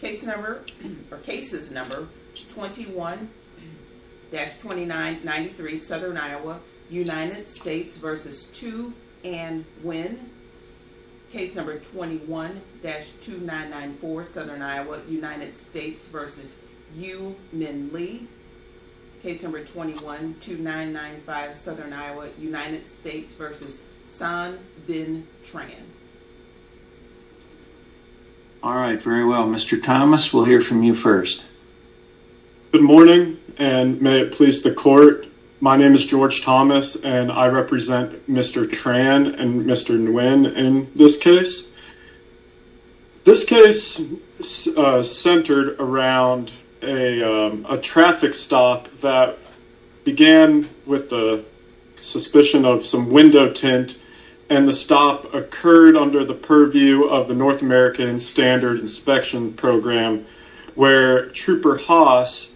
Cases number 21-2993, Southern Iowa, United States v. Tu Anh Nguyen. Case number 21-2994, Southern Iowa, United States v. Yu Minh Le. Case number 21-2995, Southern Iowa, United States v. Son Bin Tran. All right, very well. Mr. Thomas, we'll hear from you first. Good morning, and may it please the court. My name is George Thomas, and I represent Mr. Tran and Mr. Nguyen in this case. This case centered around a traffic stop that began with the suspicion of some window tint, and the stop occurred under the purview of the North American Standard Inspection Program, where Trooper Haas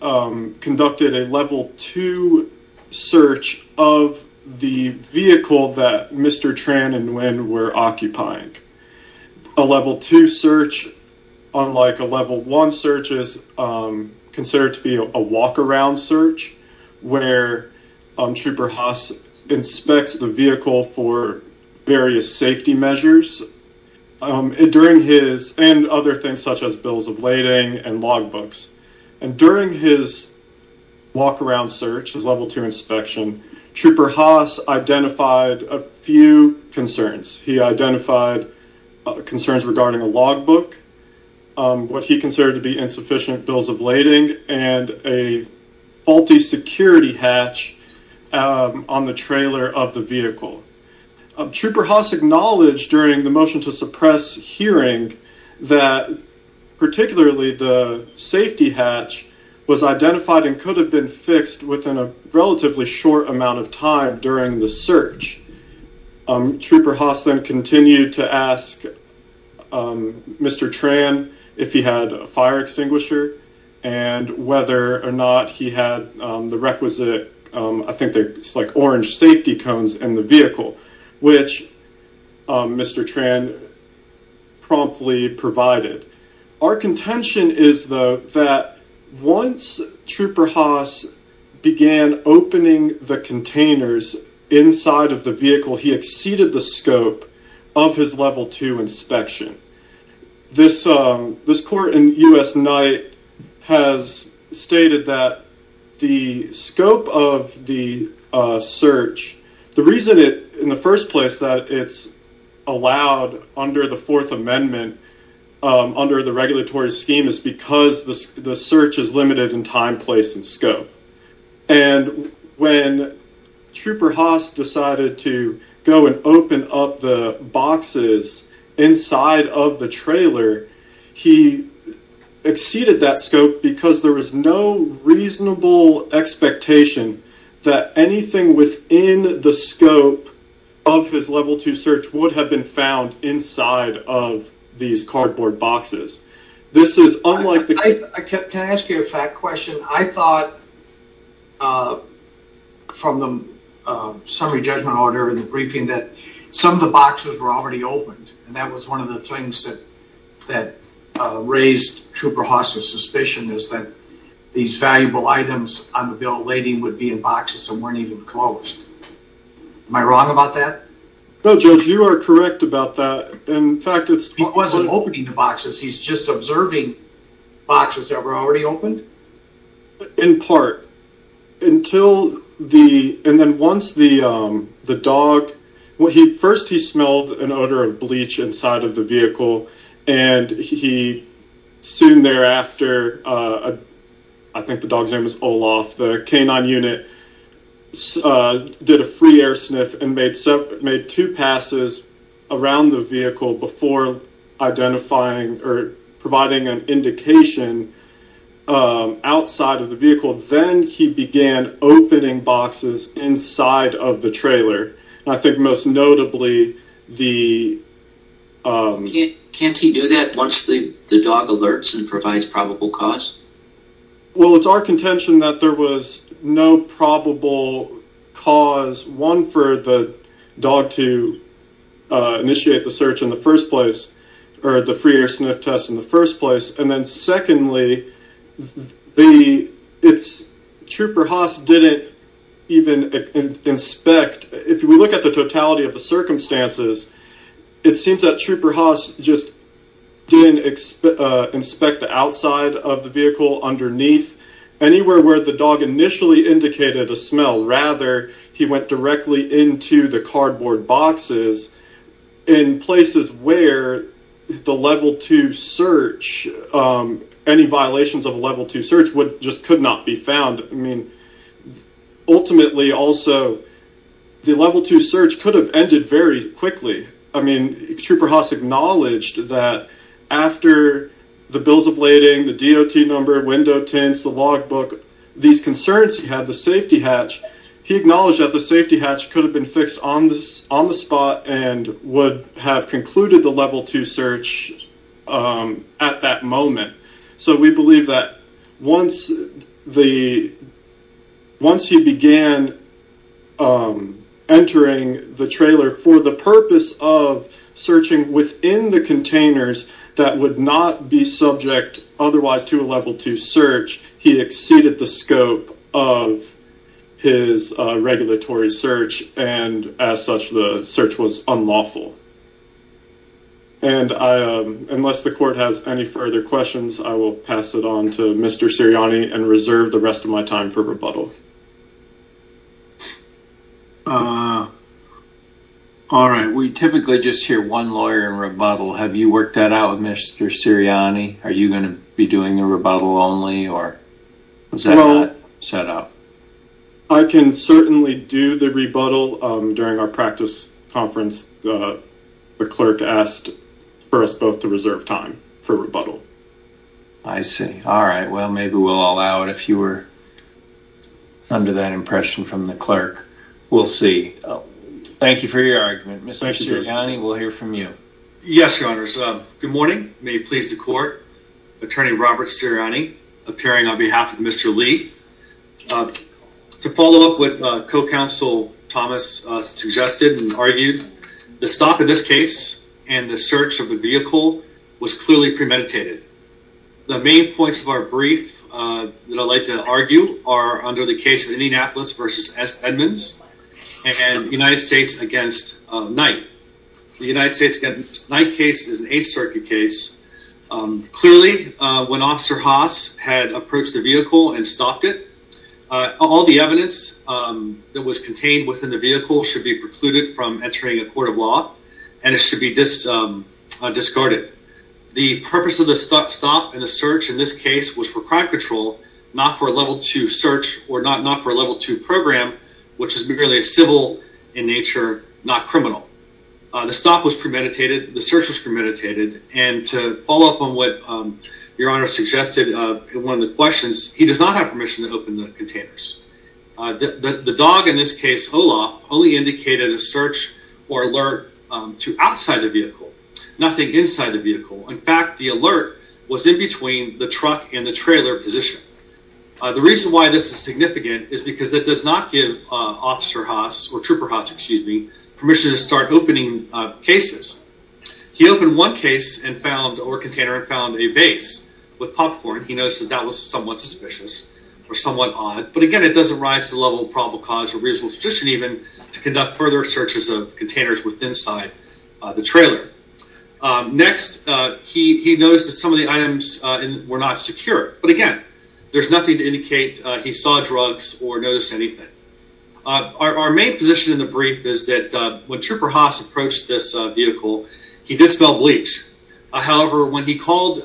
conducted a level two search of the vehicle that Mr. Tran and Nguyen were occupying. A level two search, unlike a level one search, is considered to be a walk-around search, where Trooper Haas inspects the vehicle for various safety measures, and other things such as bills of lading and logbooks. During his walk-around search, his level two inspection, Trooper Haas identified a few concerns. He identified concerns regarding a logbook, what he considered to be insufficient bills of lading, and a faulty security hatch on the trailer of the vehicle. Trooper Haas during the motion to suppress hearing that particularly the safety hatch was identified and could have been fixed within a relatively short amount of time during the search. Trooper Haas then continued to ask Mr. Tran if he had a fire extinguisher, and whether or not he had the requisite, I think they're like orange safety cones, in the vehicle, which Mr. Tran promptly provided. Our contention is though that once Trooper Haas began opening the containers inside of the vehicle, he exceeded the scope of his level two inspection. This court in U.S. Night has stated that the scope of the search, the reason it in the first place that it's allowed under the Fourth Amendment, under the regulatory scheme, is because the search is limited in time, place, and scope. And when Trooper Haas decided to go and open up the of the trailer, he exceeded that scope because there was no reasonable expectation that anything within the scope of his level two search would have been found inside of these cardboard boxes. This is unlike... Can I ask you a fact question? I thought from the summary judgment order in the that raised Trooper Haas's suspicion is that these valuable items on the bill of lading would be in boxes and weren't even closed. Am I wrong about that? No, Judge, you are correct about that. In fact, it's... He wasn't opening the boxes, he's just observing boxes that were already opened? In part, until the... And then once the dog... First, he smelled an odor of bleach inside of the vehicle and he soon thereafter, I think the dog's name is Olaf, the K-9 unit did a free air sniff and made two passes around the vehicle before identifying or providing an indication outside of the vehicle. Then he began opening boxes inside of the trailer. I think most notably the... Can't he do that once the dog alerts and provides probable cause? Well, it's our contention that there was no probable cause, one, for the dog to initiate the search in the first place or the free air sniff test in the first place. And then secondly, the... It's... Trooper Haas didn't even inspect... If we look at the totality of the circumstances, it seems that Trooper Haas just didn't inspect the outside of the vehicle underneath, anywhere where the dog initially indicated a smell. Rather, he went directly into the cardboard boxes in places where the level two search, any violations of a level two search just could not be found. I mean, ultimately also, the level two search could have ended very quickly. I mean, Trooper Haas acknowledged that after the bills of lading, the DOT number, window tints, the logbook, these concerns he had, the safety hatch, he acknowledged that the safety hatch could have been fixed on the spot and would have concluded the level two search at that moment. So we believe that once he began entering the trailer for the purpose of searching within the containers that would not be subject otherwise to a level two search, he exceeded the scope of his regulatory search. And as such, the search was unlawful. And I... Unless the court has any further questions, I will pass it on to Mr. Sirianni and reserve the rest of my time for rebuttal. All right. We typically just hear one lawyer in rebuttal. Have you worked that out with Mr. Sirianni? Are you going to be doing a rebuttal only or is that not set up? I can certainly do the rebuttal during our practice conference. The clerk asked for us both to reserve time for rebuttal. I see. All right. Well, maybe we'll allow it if you were under that impression from the clerk. We'll see. Thank you for your argument. Mr. Sirianni, we'll hear from you. Yes, your honors. Good morning. May it please the court. Attorney Robert Sirianni appearing on behalf of Mr. Lee. To follow up with co-counsel Thomas suggested and argued the stop in this case and the search of the vehicle was clearly premeditated. The main points of our brief that I'd like to argue are under the case of Indianapolis versus Edmonds and United States against Knight. The United States against Knight case is an Eighth Circuit case. Clearly when Officer Haas had approached the vehicle and stopped it, all the evidence that was contained within the vehicle should be precluded from entering a court of law and it should be discarded. The purpose of the stop and the search in this case was for program which is really a civil in nature, not criminal. The stop was premeditated, the search was premeditated and to follow up on what your honor suggested in one of the questions, he does not have permission to open the containers. The dog in this case, Olaf, only indicated a search or alert to outside the vehicle. Nothing inside the vehicle. In fact, the alert was in between the truck and the trailer position. The reason why this is significant is because that does not give Officer Haas or Trooper Haas, excuse me, permission to start opening cases. He opened one case or container and found a vase with popcorn. He noticed that that was somewhat suspicious or somewhat odd. But again, it doesn't rise to the level of probable cause or reasonable suspicion even to conduct further searches of containers with inside the trailer. Next, he noticed that some of the items were not secure. But again, there's nothing to indicate he saw drugs or noticed anything. Our main position in the brief is that when Trooper Haas approached this vehicle, he dispelled bleach. However, when he called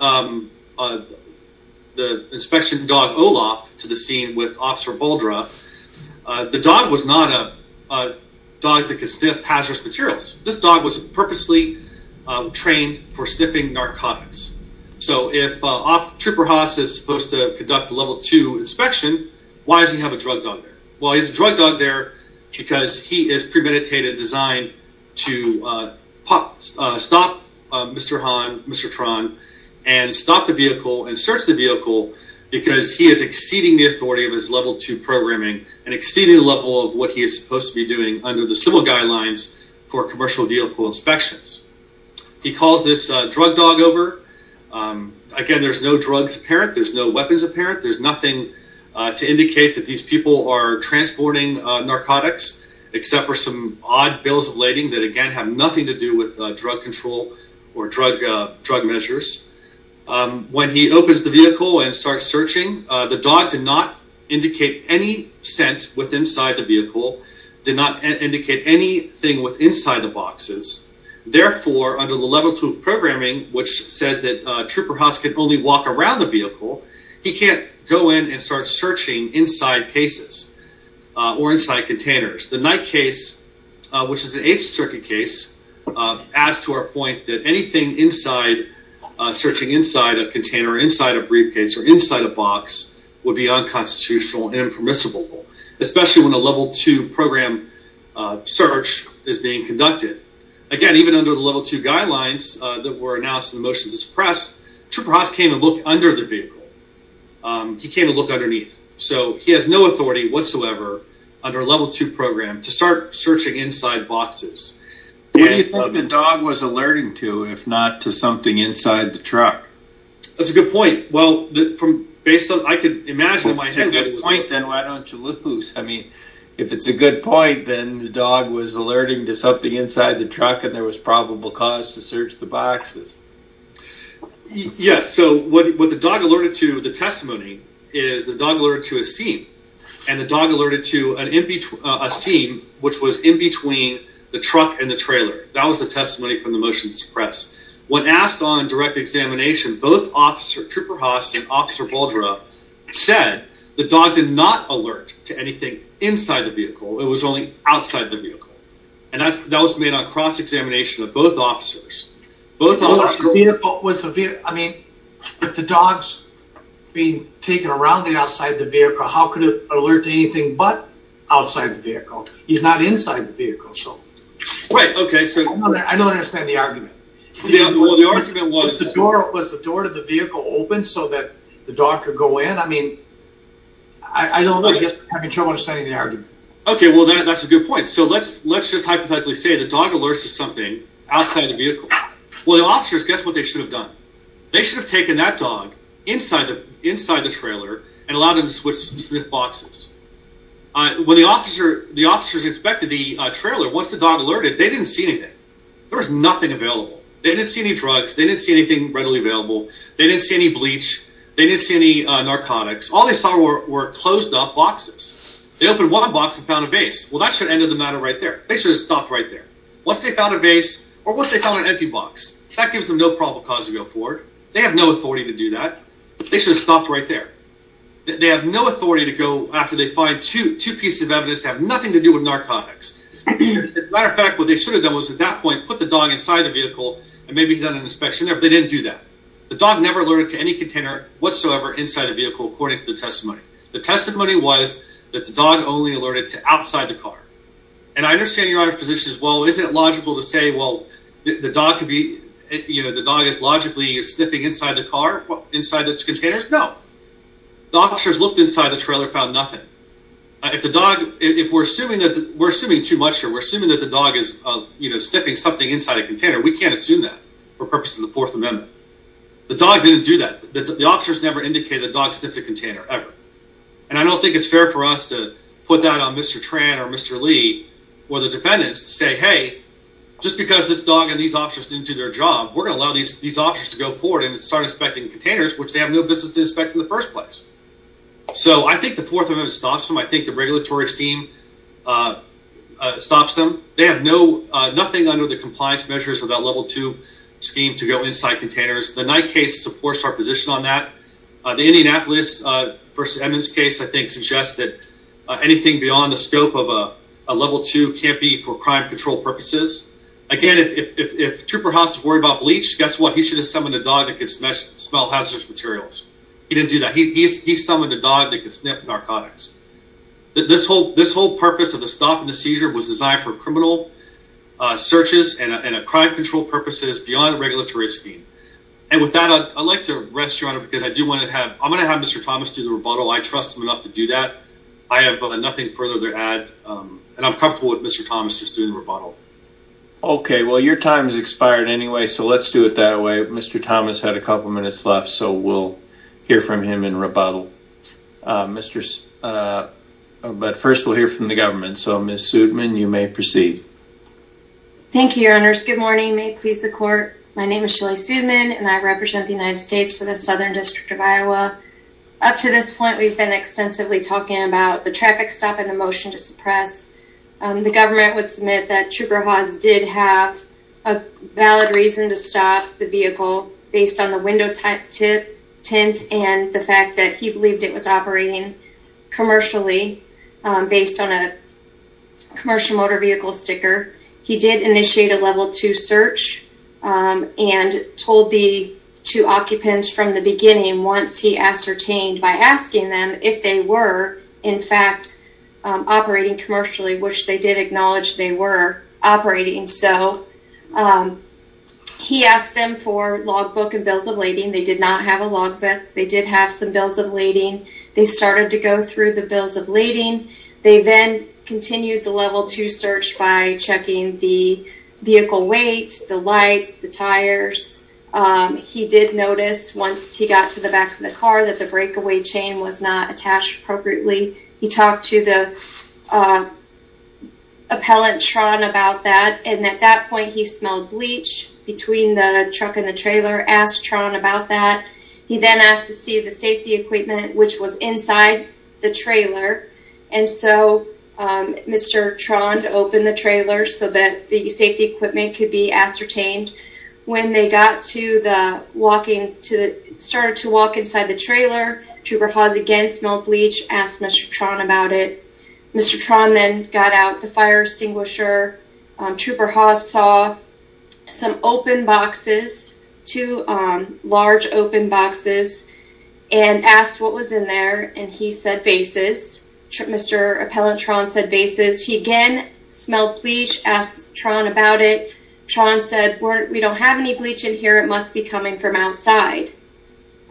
the inspection dog Olaf to the scene with Officer Baldra, the dog was not a dog that could sniff hazardous materials. This dog was purposely trained for sniffing narcotics. So if Trooper Haas is supposed to conduct a level two inspection, why does he have a drug dog there? Well, he has a drug dog there because he is premeditated designed to stop Mr. Han, Mr. Tran, and stop the vehicle and search the vehicle because he is exceeding the authority of his level two programming and exceeding the level of what he is supposed to be doing under the civil guidelines for commercial vehicle inspections. He calls this drug dog over. Again, there's no drugs apparent. There's no weapons apparent. There's nothing to indicate that these people are transporting narcotics, except for some odd bills of lading that again have nothing to do with drug control or drug measures. When he opens the vehicle and starts searching, the dog did not indicate any scent with inside the vehicle, did not indicate anything with inside the boxes. Therefore, under the level two programming, which says that Trooper Haas can only walk around the vehicle, he can't go in and start searching inside cases or inside containers. The night case, which is an eighth circuit case, adds to our point that anything searching inside a container, inside a briefcase, or inside a box would be unconstitutional and search is being conducted. Again, even under the level two guidelines that were announced in the motions of the press, Trooper Haas came and looked under the vehicle. He came and looked underneath. So, he has no authority whatsoever under a level two program to start searching inside boxes. What do you think the dog was alerting to, if not to something inside the truck? That's a good point. Well, based on what I could imagine in my head. Then, why don't you lose? I mean, if it's a good point, then the dog was alerting to something inside the truck and there was probable cause to search the boxes. Yes. So, what the dog alerted to, the testimony, is the dog alerted to a seam and the dog alerted to a seam, which was in between the truck and the trailer. That was the testimony from the motions of the press. When asked on direct examination, both Officer Trooper Haas and the dog did not alert to anything inside the vehicle. It was only outside the vehicle. And that was made on cross-examination of both officers. I mean, if the dog's being taken around the outside of the vehicle, how could it alert to anything but outside the vehicle? He's not inside the vehicle. Wait, okay. I don't understand the argument. The argument was, was the door to the vehicle open so that the dog could go in? I mean, I don't know. I guess, I mean, I don't understand the argument. Okay, well, that's a good point. So, let's, let's just hypothetically say the dog alerts to something outside the vehicle. Well, the officers, guess what they should have done? They should have taken that dog inside the, inside the trailer and allowed them to switch boxes. When the officer, the officers inspected the trailer, once the dog alerted, they didn't see anything. There was nothing available. They didn't see any drugs. They didn't see anything readily available. They didn't see any bleach. They didn't see any narcotics. All they saw were closed up boxes. They opened one box and found a vase. Well, that should end of the matter right there. They should have stopped right there. Once they found a vase or once they found an empty box, that gives them no probable cause to go forward. They have no authority to do that. They should have stopped right there. They have no authority to go after they find two, two pieces of evidence have nothing to do with narcotics. As a matter of fact, what they should have done was at that point, put the dog inside the vehicle and maybe done an inspection there, but they didn't do that. The dog never alerted to any container whatsoever inside the vehicle. According to the testimony, the testimony was that the dog only alerted to outside the car. And I understand your position as well. Isn't it logical to say, well, the dog could be, you know, the dog is logically sniffing inside the car, inside the container. No, the officers looked inside the trailer, found nothing. If the dog, if we're assuming that we're assuming too much, or we're assuming that the dog is, you know, sniffing something inside a container, we can't assume that for purposes of the fourth amendment. The dog didn't do that. The officers never indicated the dog sniffed a container ever. And I don't think it's fair for us to put that on Mr. Tran or Mr. Lee or the defendants to say, hey, just because this dog and these officers didn't do their job, we're going to allow these officers to go forward and start inspecting containers, which they have no business inspecting the first place. So I think the fourth amendment stops them. I think the regulatory team stops them. They have no, nothing under the compliance measures of that level two scheme to go inside containers. The Knight case supports our position on that. The Indianapolis versus Edmonds case, I think suggests that anything beyond the scope of a level two can't be for crime control purposes. Again, if Trooper Haas is worried about bleach, guess what? He should have summoned a dog that could smell hazardous materials. He didn't do narcotics. This whole purpose of the stop and the seizure was designed for criminal searches and a crime control purposes beyond regulatory scheme. And with that, I'd like to rest your honor, because I do want to have, I'm going to have Mr. Thomas do the rebuttal. I trust him enough to do that. I have nothing further to add and I'm comfortable with Mr. Thomas just doing the rebuttal. Okay. Well, your time has expired anyway, so let's do it that way. Mr. Thomas, we'll hear from him in rebuttal. But first we'll hear from the government. So Ms. Sudman, you may proceed. Thank you, your honors. Good morning. May it please the court. My name is Shelley Sudman and I represent the United States for the Southern District of Iowa. Up to this point, we've been extensively talking about the traffic stop and the motion to suppress. The government would submit that Trooper Haas did have a valid reason to stop the vehicle based on window type tint and the fact that he believed it was operating commercially based on a commercial motor vehicle sticker. He did initiate a level two search and told the two occupants from the beginning, once he ascertained by asking them if they were in fact operating commercially, which they did acknowledge they were operating. So he asked them for log book and bills of lading. They did not have a log book. They did have some bills of lading. They started to go through the bills of lading. They then continued the level two search by checking the vehicle weight, the lights, the tires. He did notice once he got to the back of the car that the breakaway chain was not attached appropriately. He talked to the appellant Tron about that. And at that point, he smelled bleach between the truck and the trailer, asked Tron about that. He then asked to see the safety equipment, which was inside the trailer. And so Mr. Tron opened the trailer so that the safety equipment could be ascertained. When they got to the walking to the started to walk inside the trailer, Trooper Hawes again smelled bleach, asked Mr. Tron about it. Mr. Tron then got out the fire extinguisher. Trooper Hawes saw some open boxes, two large open boxes, and asked what was in there. And he said vases. Mr. Appellant Tron said vases. He again smelled bleach, asked Tron about it. Tron said, we don't have any bleach in here. It must be coming from outside.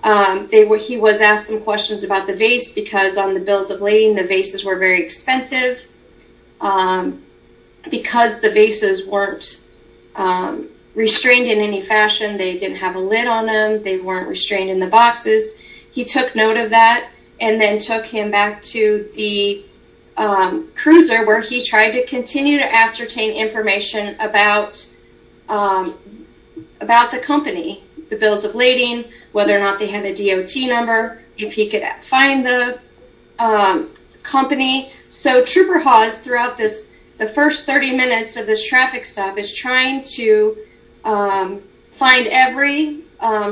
He was asked some questions about the vase because on the bills of lading, the vases were very expensive. Because the vases weren't restrained in any fashion, they didn't have a lid on them. They weren't restrained in the boxes. He took note of that and then took him back to the cruiser where he tried to continue to ascertain information about the company, the bills of lading, whether or not they had a DOT number, if he could find the company. So Trooper Hawes throughout the first 30 minutes of this traffic stop is trying to find every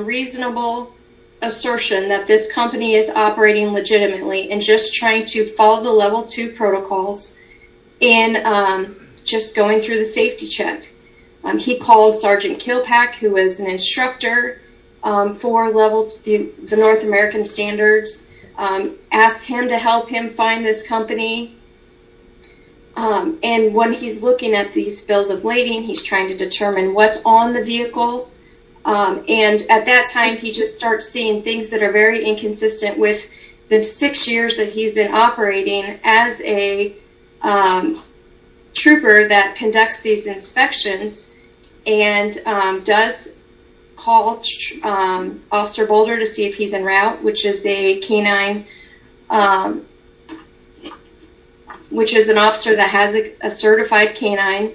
reasonable assertion that this company is operating legitimately and just trying to check. He calls Sergeant Kilpack, who was an instructor for the North American Standards, asked him to help him find this company. And when he's looking at these bills of lading, he's trying to determine what's on the vehicle. And at that time, he just starts seeing things that are very inconsistent with the six years that he's been operating as a conducts these inspections and does call Officer Boulder to see if he's en route, which is a canine, which is an officer that has a certified canine.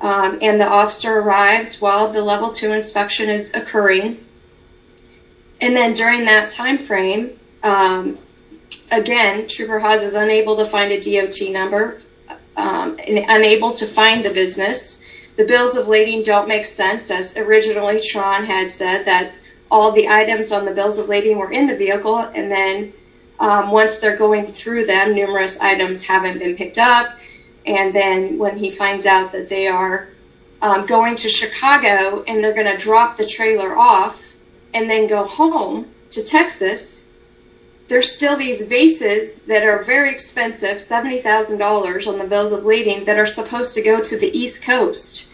And the officer arrives while the level two inspection is occurring. And then during that time frame, again, Trooper Hawes is unable to find a business. The bills of lading don't make sense, as originally Tron had said that all the items on the bills of lading were in the vehicle. And then once they're going through them, numerous items haven't been picked up. And then when he finds out that they are going to Chicago and they're going to drop the trailer off and then go home to Texas, there's still these vases that are very inconsistent with the East Coast.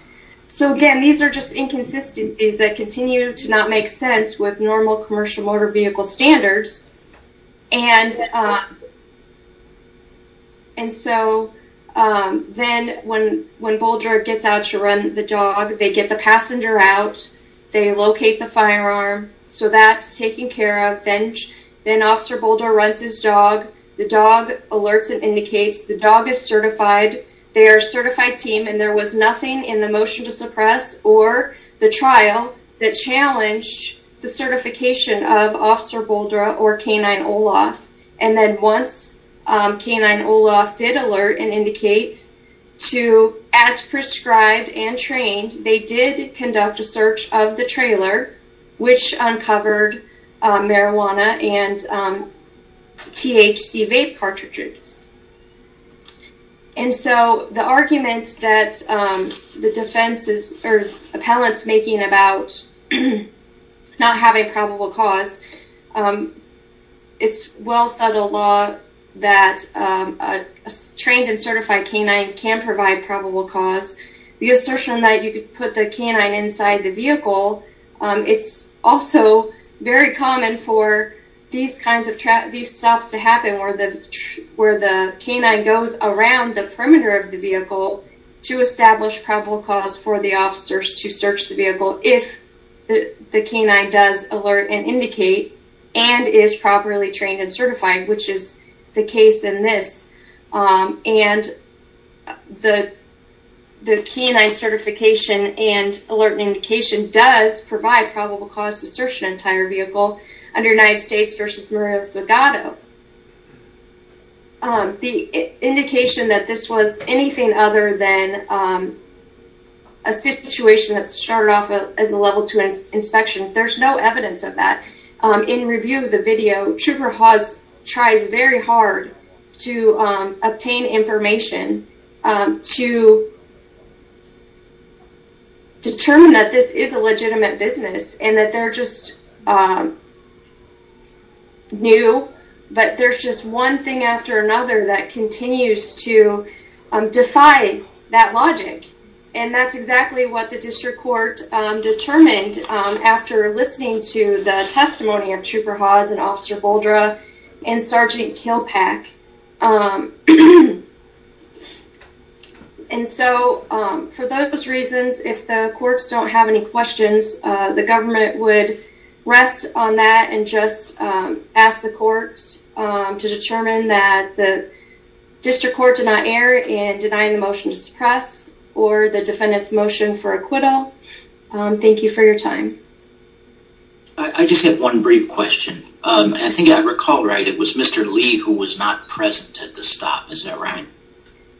So again, these are just inconsistencies that continue to not make sense with normal commercial motor vehicle standards. And so then when Boulder gets out to run the dog, they get the passenger out. They locate the firearm. So that's taken care of. Then Officer Boulder runs his dog. The dog alerts and indicates. The dog is certified. They are a certified team and there was nothing in the motion to suppress or the trial that challenged the certification of Officer Boulder or K-9 Olaf. And then once K-9 Olaf did alert and indicate to as prescribed and trained, they did conduct a search of the trailer, which uncovered marijuana and THC vape cartridges. And so the argument that the defense is or appellants making about not having probable cause, it's well settled law that a trained and certified K-9 can provide probable cause. The assertion that you could put the K-9 inside the vehicle, it's also very common for these kinds of these stops to happen where the K-9 goes around the perimeter of the vehicle to establish probable cause for the officers to search the vehicle if the K-9 does alert and indicate and is properly trained and certified, which is the case in this. And the K-9 certification and alert and indication does provide probable cause to search an entire vehicle under United States v. Murillo-Segato. The indication that this was anything other than a situation that started off as a Level 2 inspection, there's no evidence of that. In review of the video, Trooper Hawes tries very hard to obtain information to determine that this is a legitimate business and that they're just new, but there's just one thing after another that continues to defy that logic. And that's exactly what the District Court determined after listening to the testimony of Trooper Hawes and Officer Boldreau and Sergeant Kilpack. And so for those reasons, if the courts don't have any questions, the government would rest on that and just ask the courts to determine that the District Court did not err in denying the motion to suppress or the defendant's motion for acquittal. Thank you for your time. I just have one brief question. I think I recall right, it was Mr. Lee who was not present at the stop, is that right?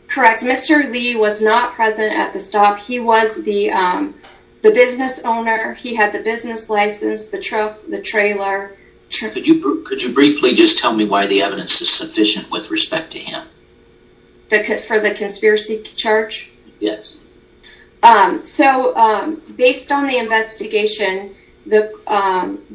Correct. Mr. Lee was not present at the stop. He was the business owner. He had the business license, the truck, the trailer. Could you briefly just tell me why the evidence is sufficient with respect to him? For the conspiracy charge? Yes. So, based on the investigation, the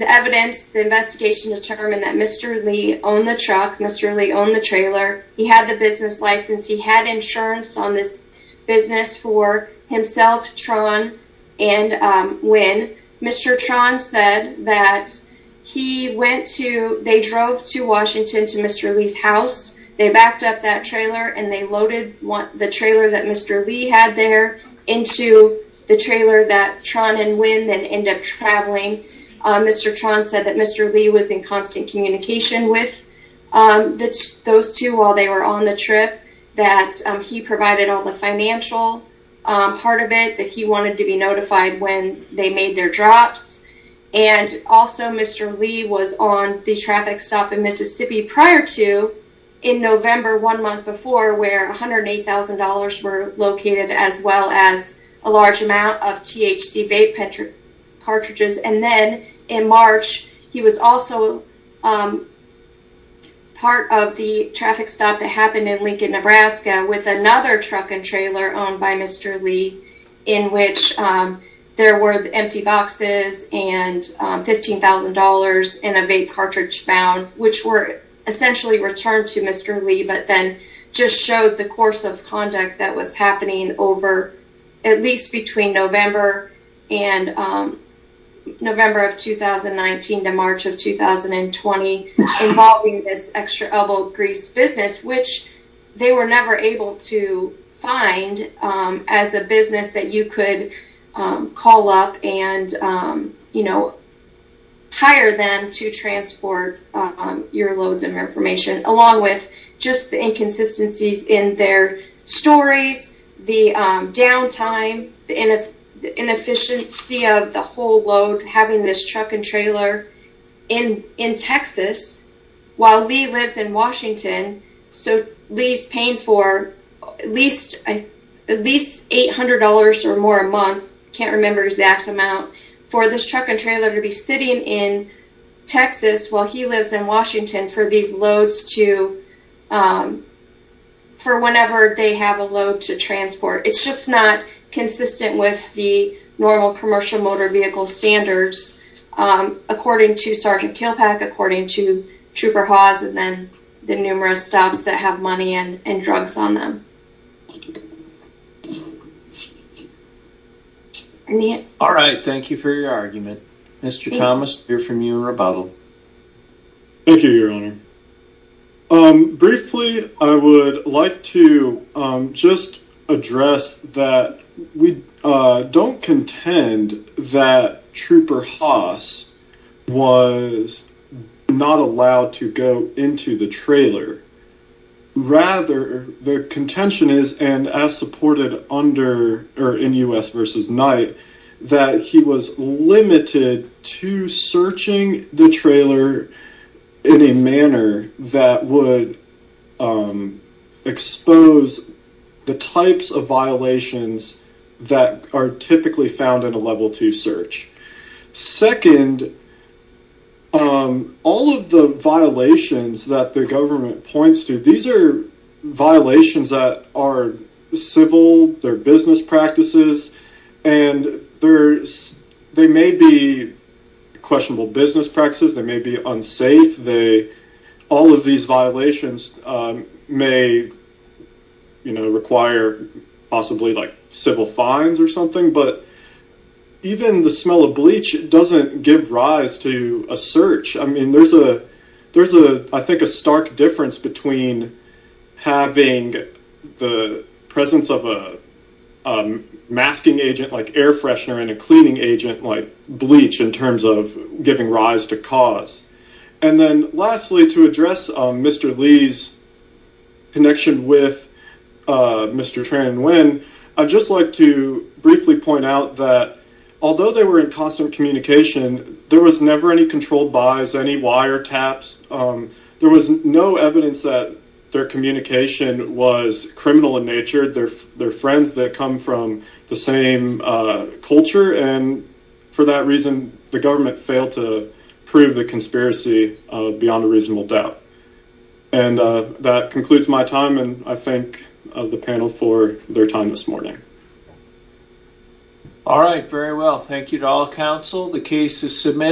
evidence, the investigation determined that Mr. Lee owned the truck. Mr. Lee owned the trailer. He had the business license. He had insurance on this business for himself, Tron, and Wynn. Mr. Tron said that he went to, they drove to Washington to Mr. Lee's house. They backed up that trailer and they loaded the trailer that Mr. Lee had there into the trailer that Tron and Wynn then end up traveling. Mr. Tron said that Mr. Lee was in constant communication with those two while they were on the trip, that he provided all the financial part of it, that he wanted to be notified when they made their drops. And also, Mr. Lee was on the traffic stop in Mississippi prior to in November, one month before, where $108,000 were located as well as a large amount of THC vape cartridges. And then in March, he was also part of the traffic stop that happened in Lincoln, Nebraska with another truck and trailer owned by Mr. Lee in which there were empty boxes and $15,000 in a vape cartridge found, which were that was happening over, at least between November and November of 2019 to March of 2020, involving this extra elbow grease business, which they were never able to find as a business that you could call up and hire them to transport your loads and reformation, along with just the the downtime, the inefficiency of the whole load, having this truck and trailer in Texas, while Lee lives in Washington. So Lee's paying for at least $800 or more a month, can't remember exact amount, for this truck and trailer to be sitting in Texas while he lives in It's just not consistent with the normal commercial motor vehicle standards, according to Sergeant Kilpack, according to Trooper Hawes, and then the numerous stops that have money and drugs on them. All right, thank you for your argument. Mr. Thomas, we hear from you in rebuttal. Thank you, Your Honor. Briefly, I would like to just address that we don't contend that Trooper Hawes was not allowed to go into the trailer. Rather, the contention is, and as supported under, or in U.S. v. Knight, that he was limited to searching the trailer in a manner that would expose the types of violations that are typically found in a Level 2 search. Second, all of the violations that the government questionable business practices. They may be unsafe. All of these violations may require possibly civil fines or something, but even the smell of bleach doesn't give rise to a search. I mean, there's, I think, a stark difference between having the presence of a air freshener and a cleaning agent, like bleach, in terms of giving rise to cause. And then lastly, to address Mr. Lee's connection with Mr. Tran Nguyen, I'd just like to briefly point out that although they were in constant communication, there was never any controlled buys, any wire taps. There was no evidence that their communication was criminal in nature. They're culture, and for that reason, the government failed to prove the conspiracy beyond a reasonable doubt. And that concludes my time, and I thank the panel for their time this morning. All right, very well. Thank you to all counsel. The case is submitted.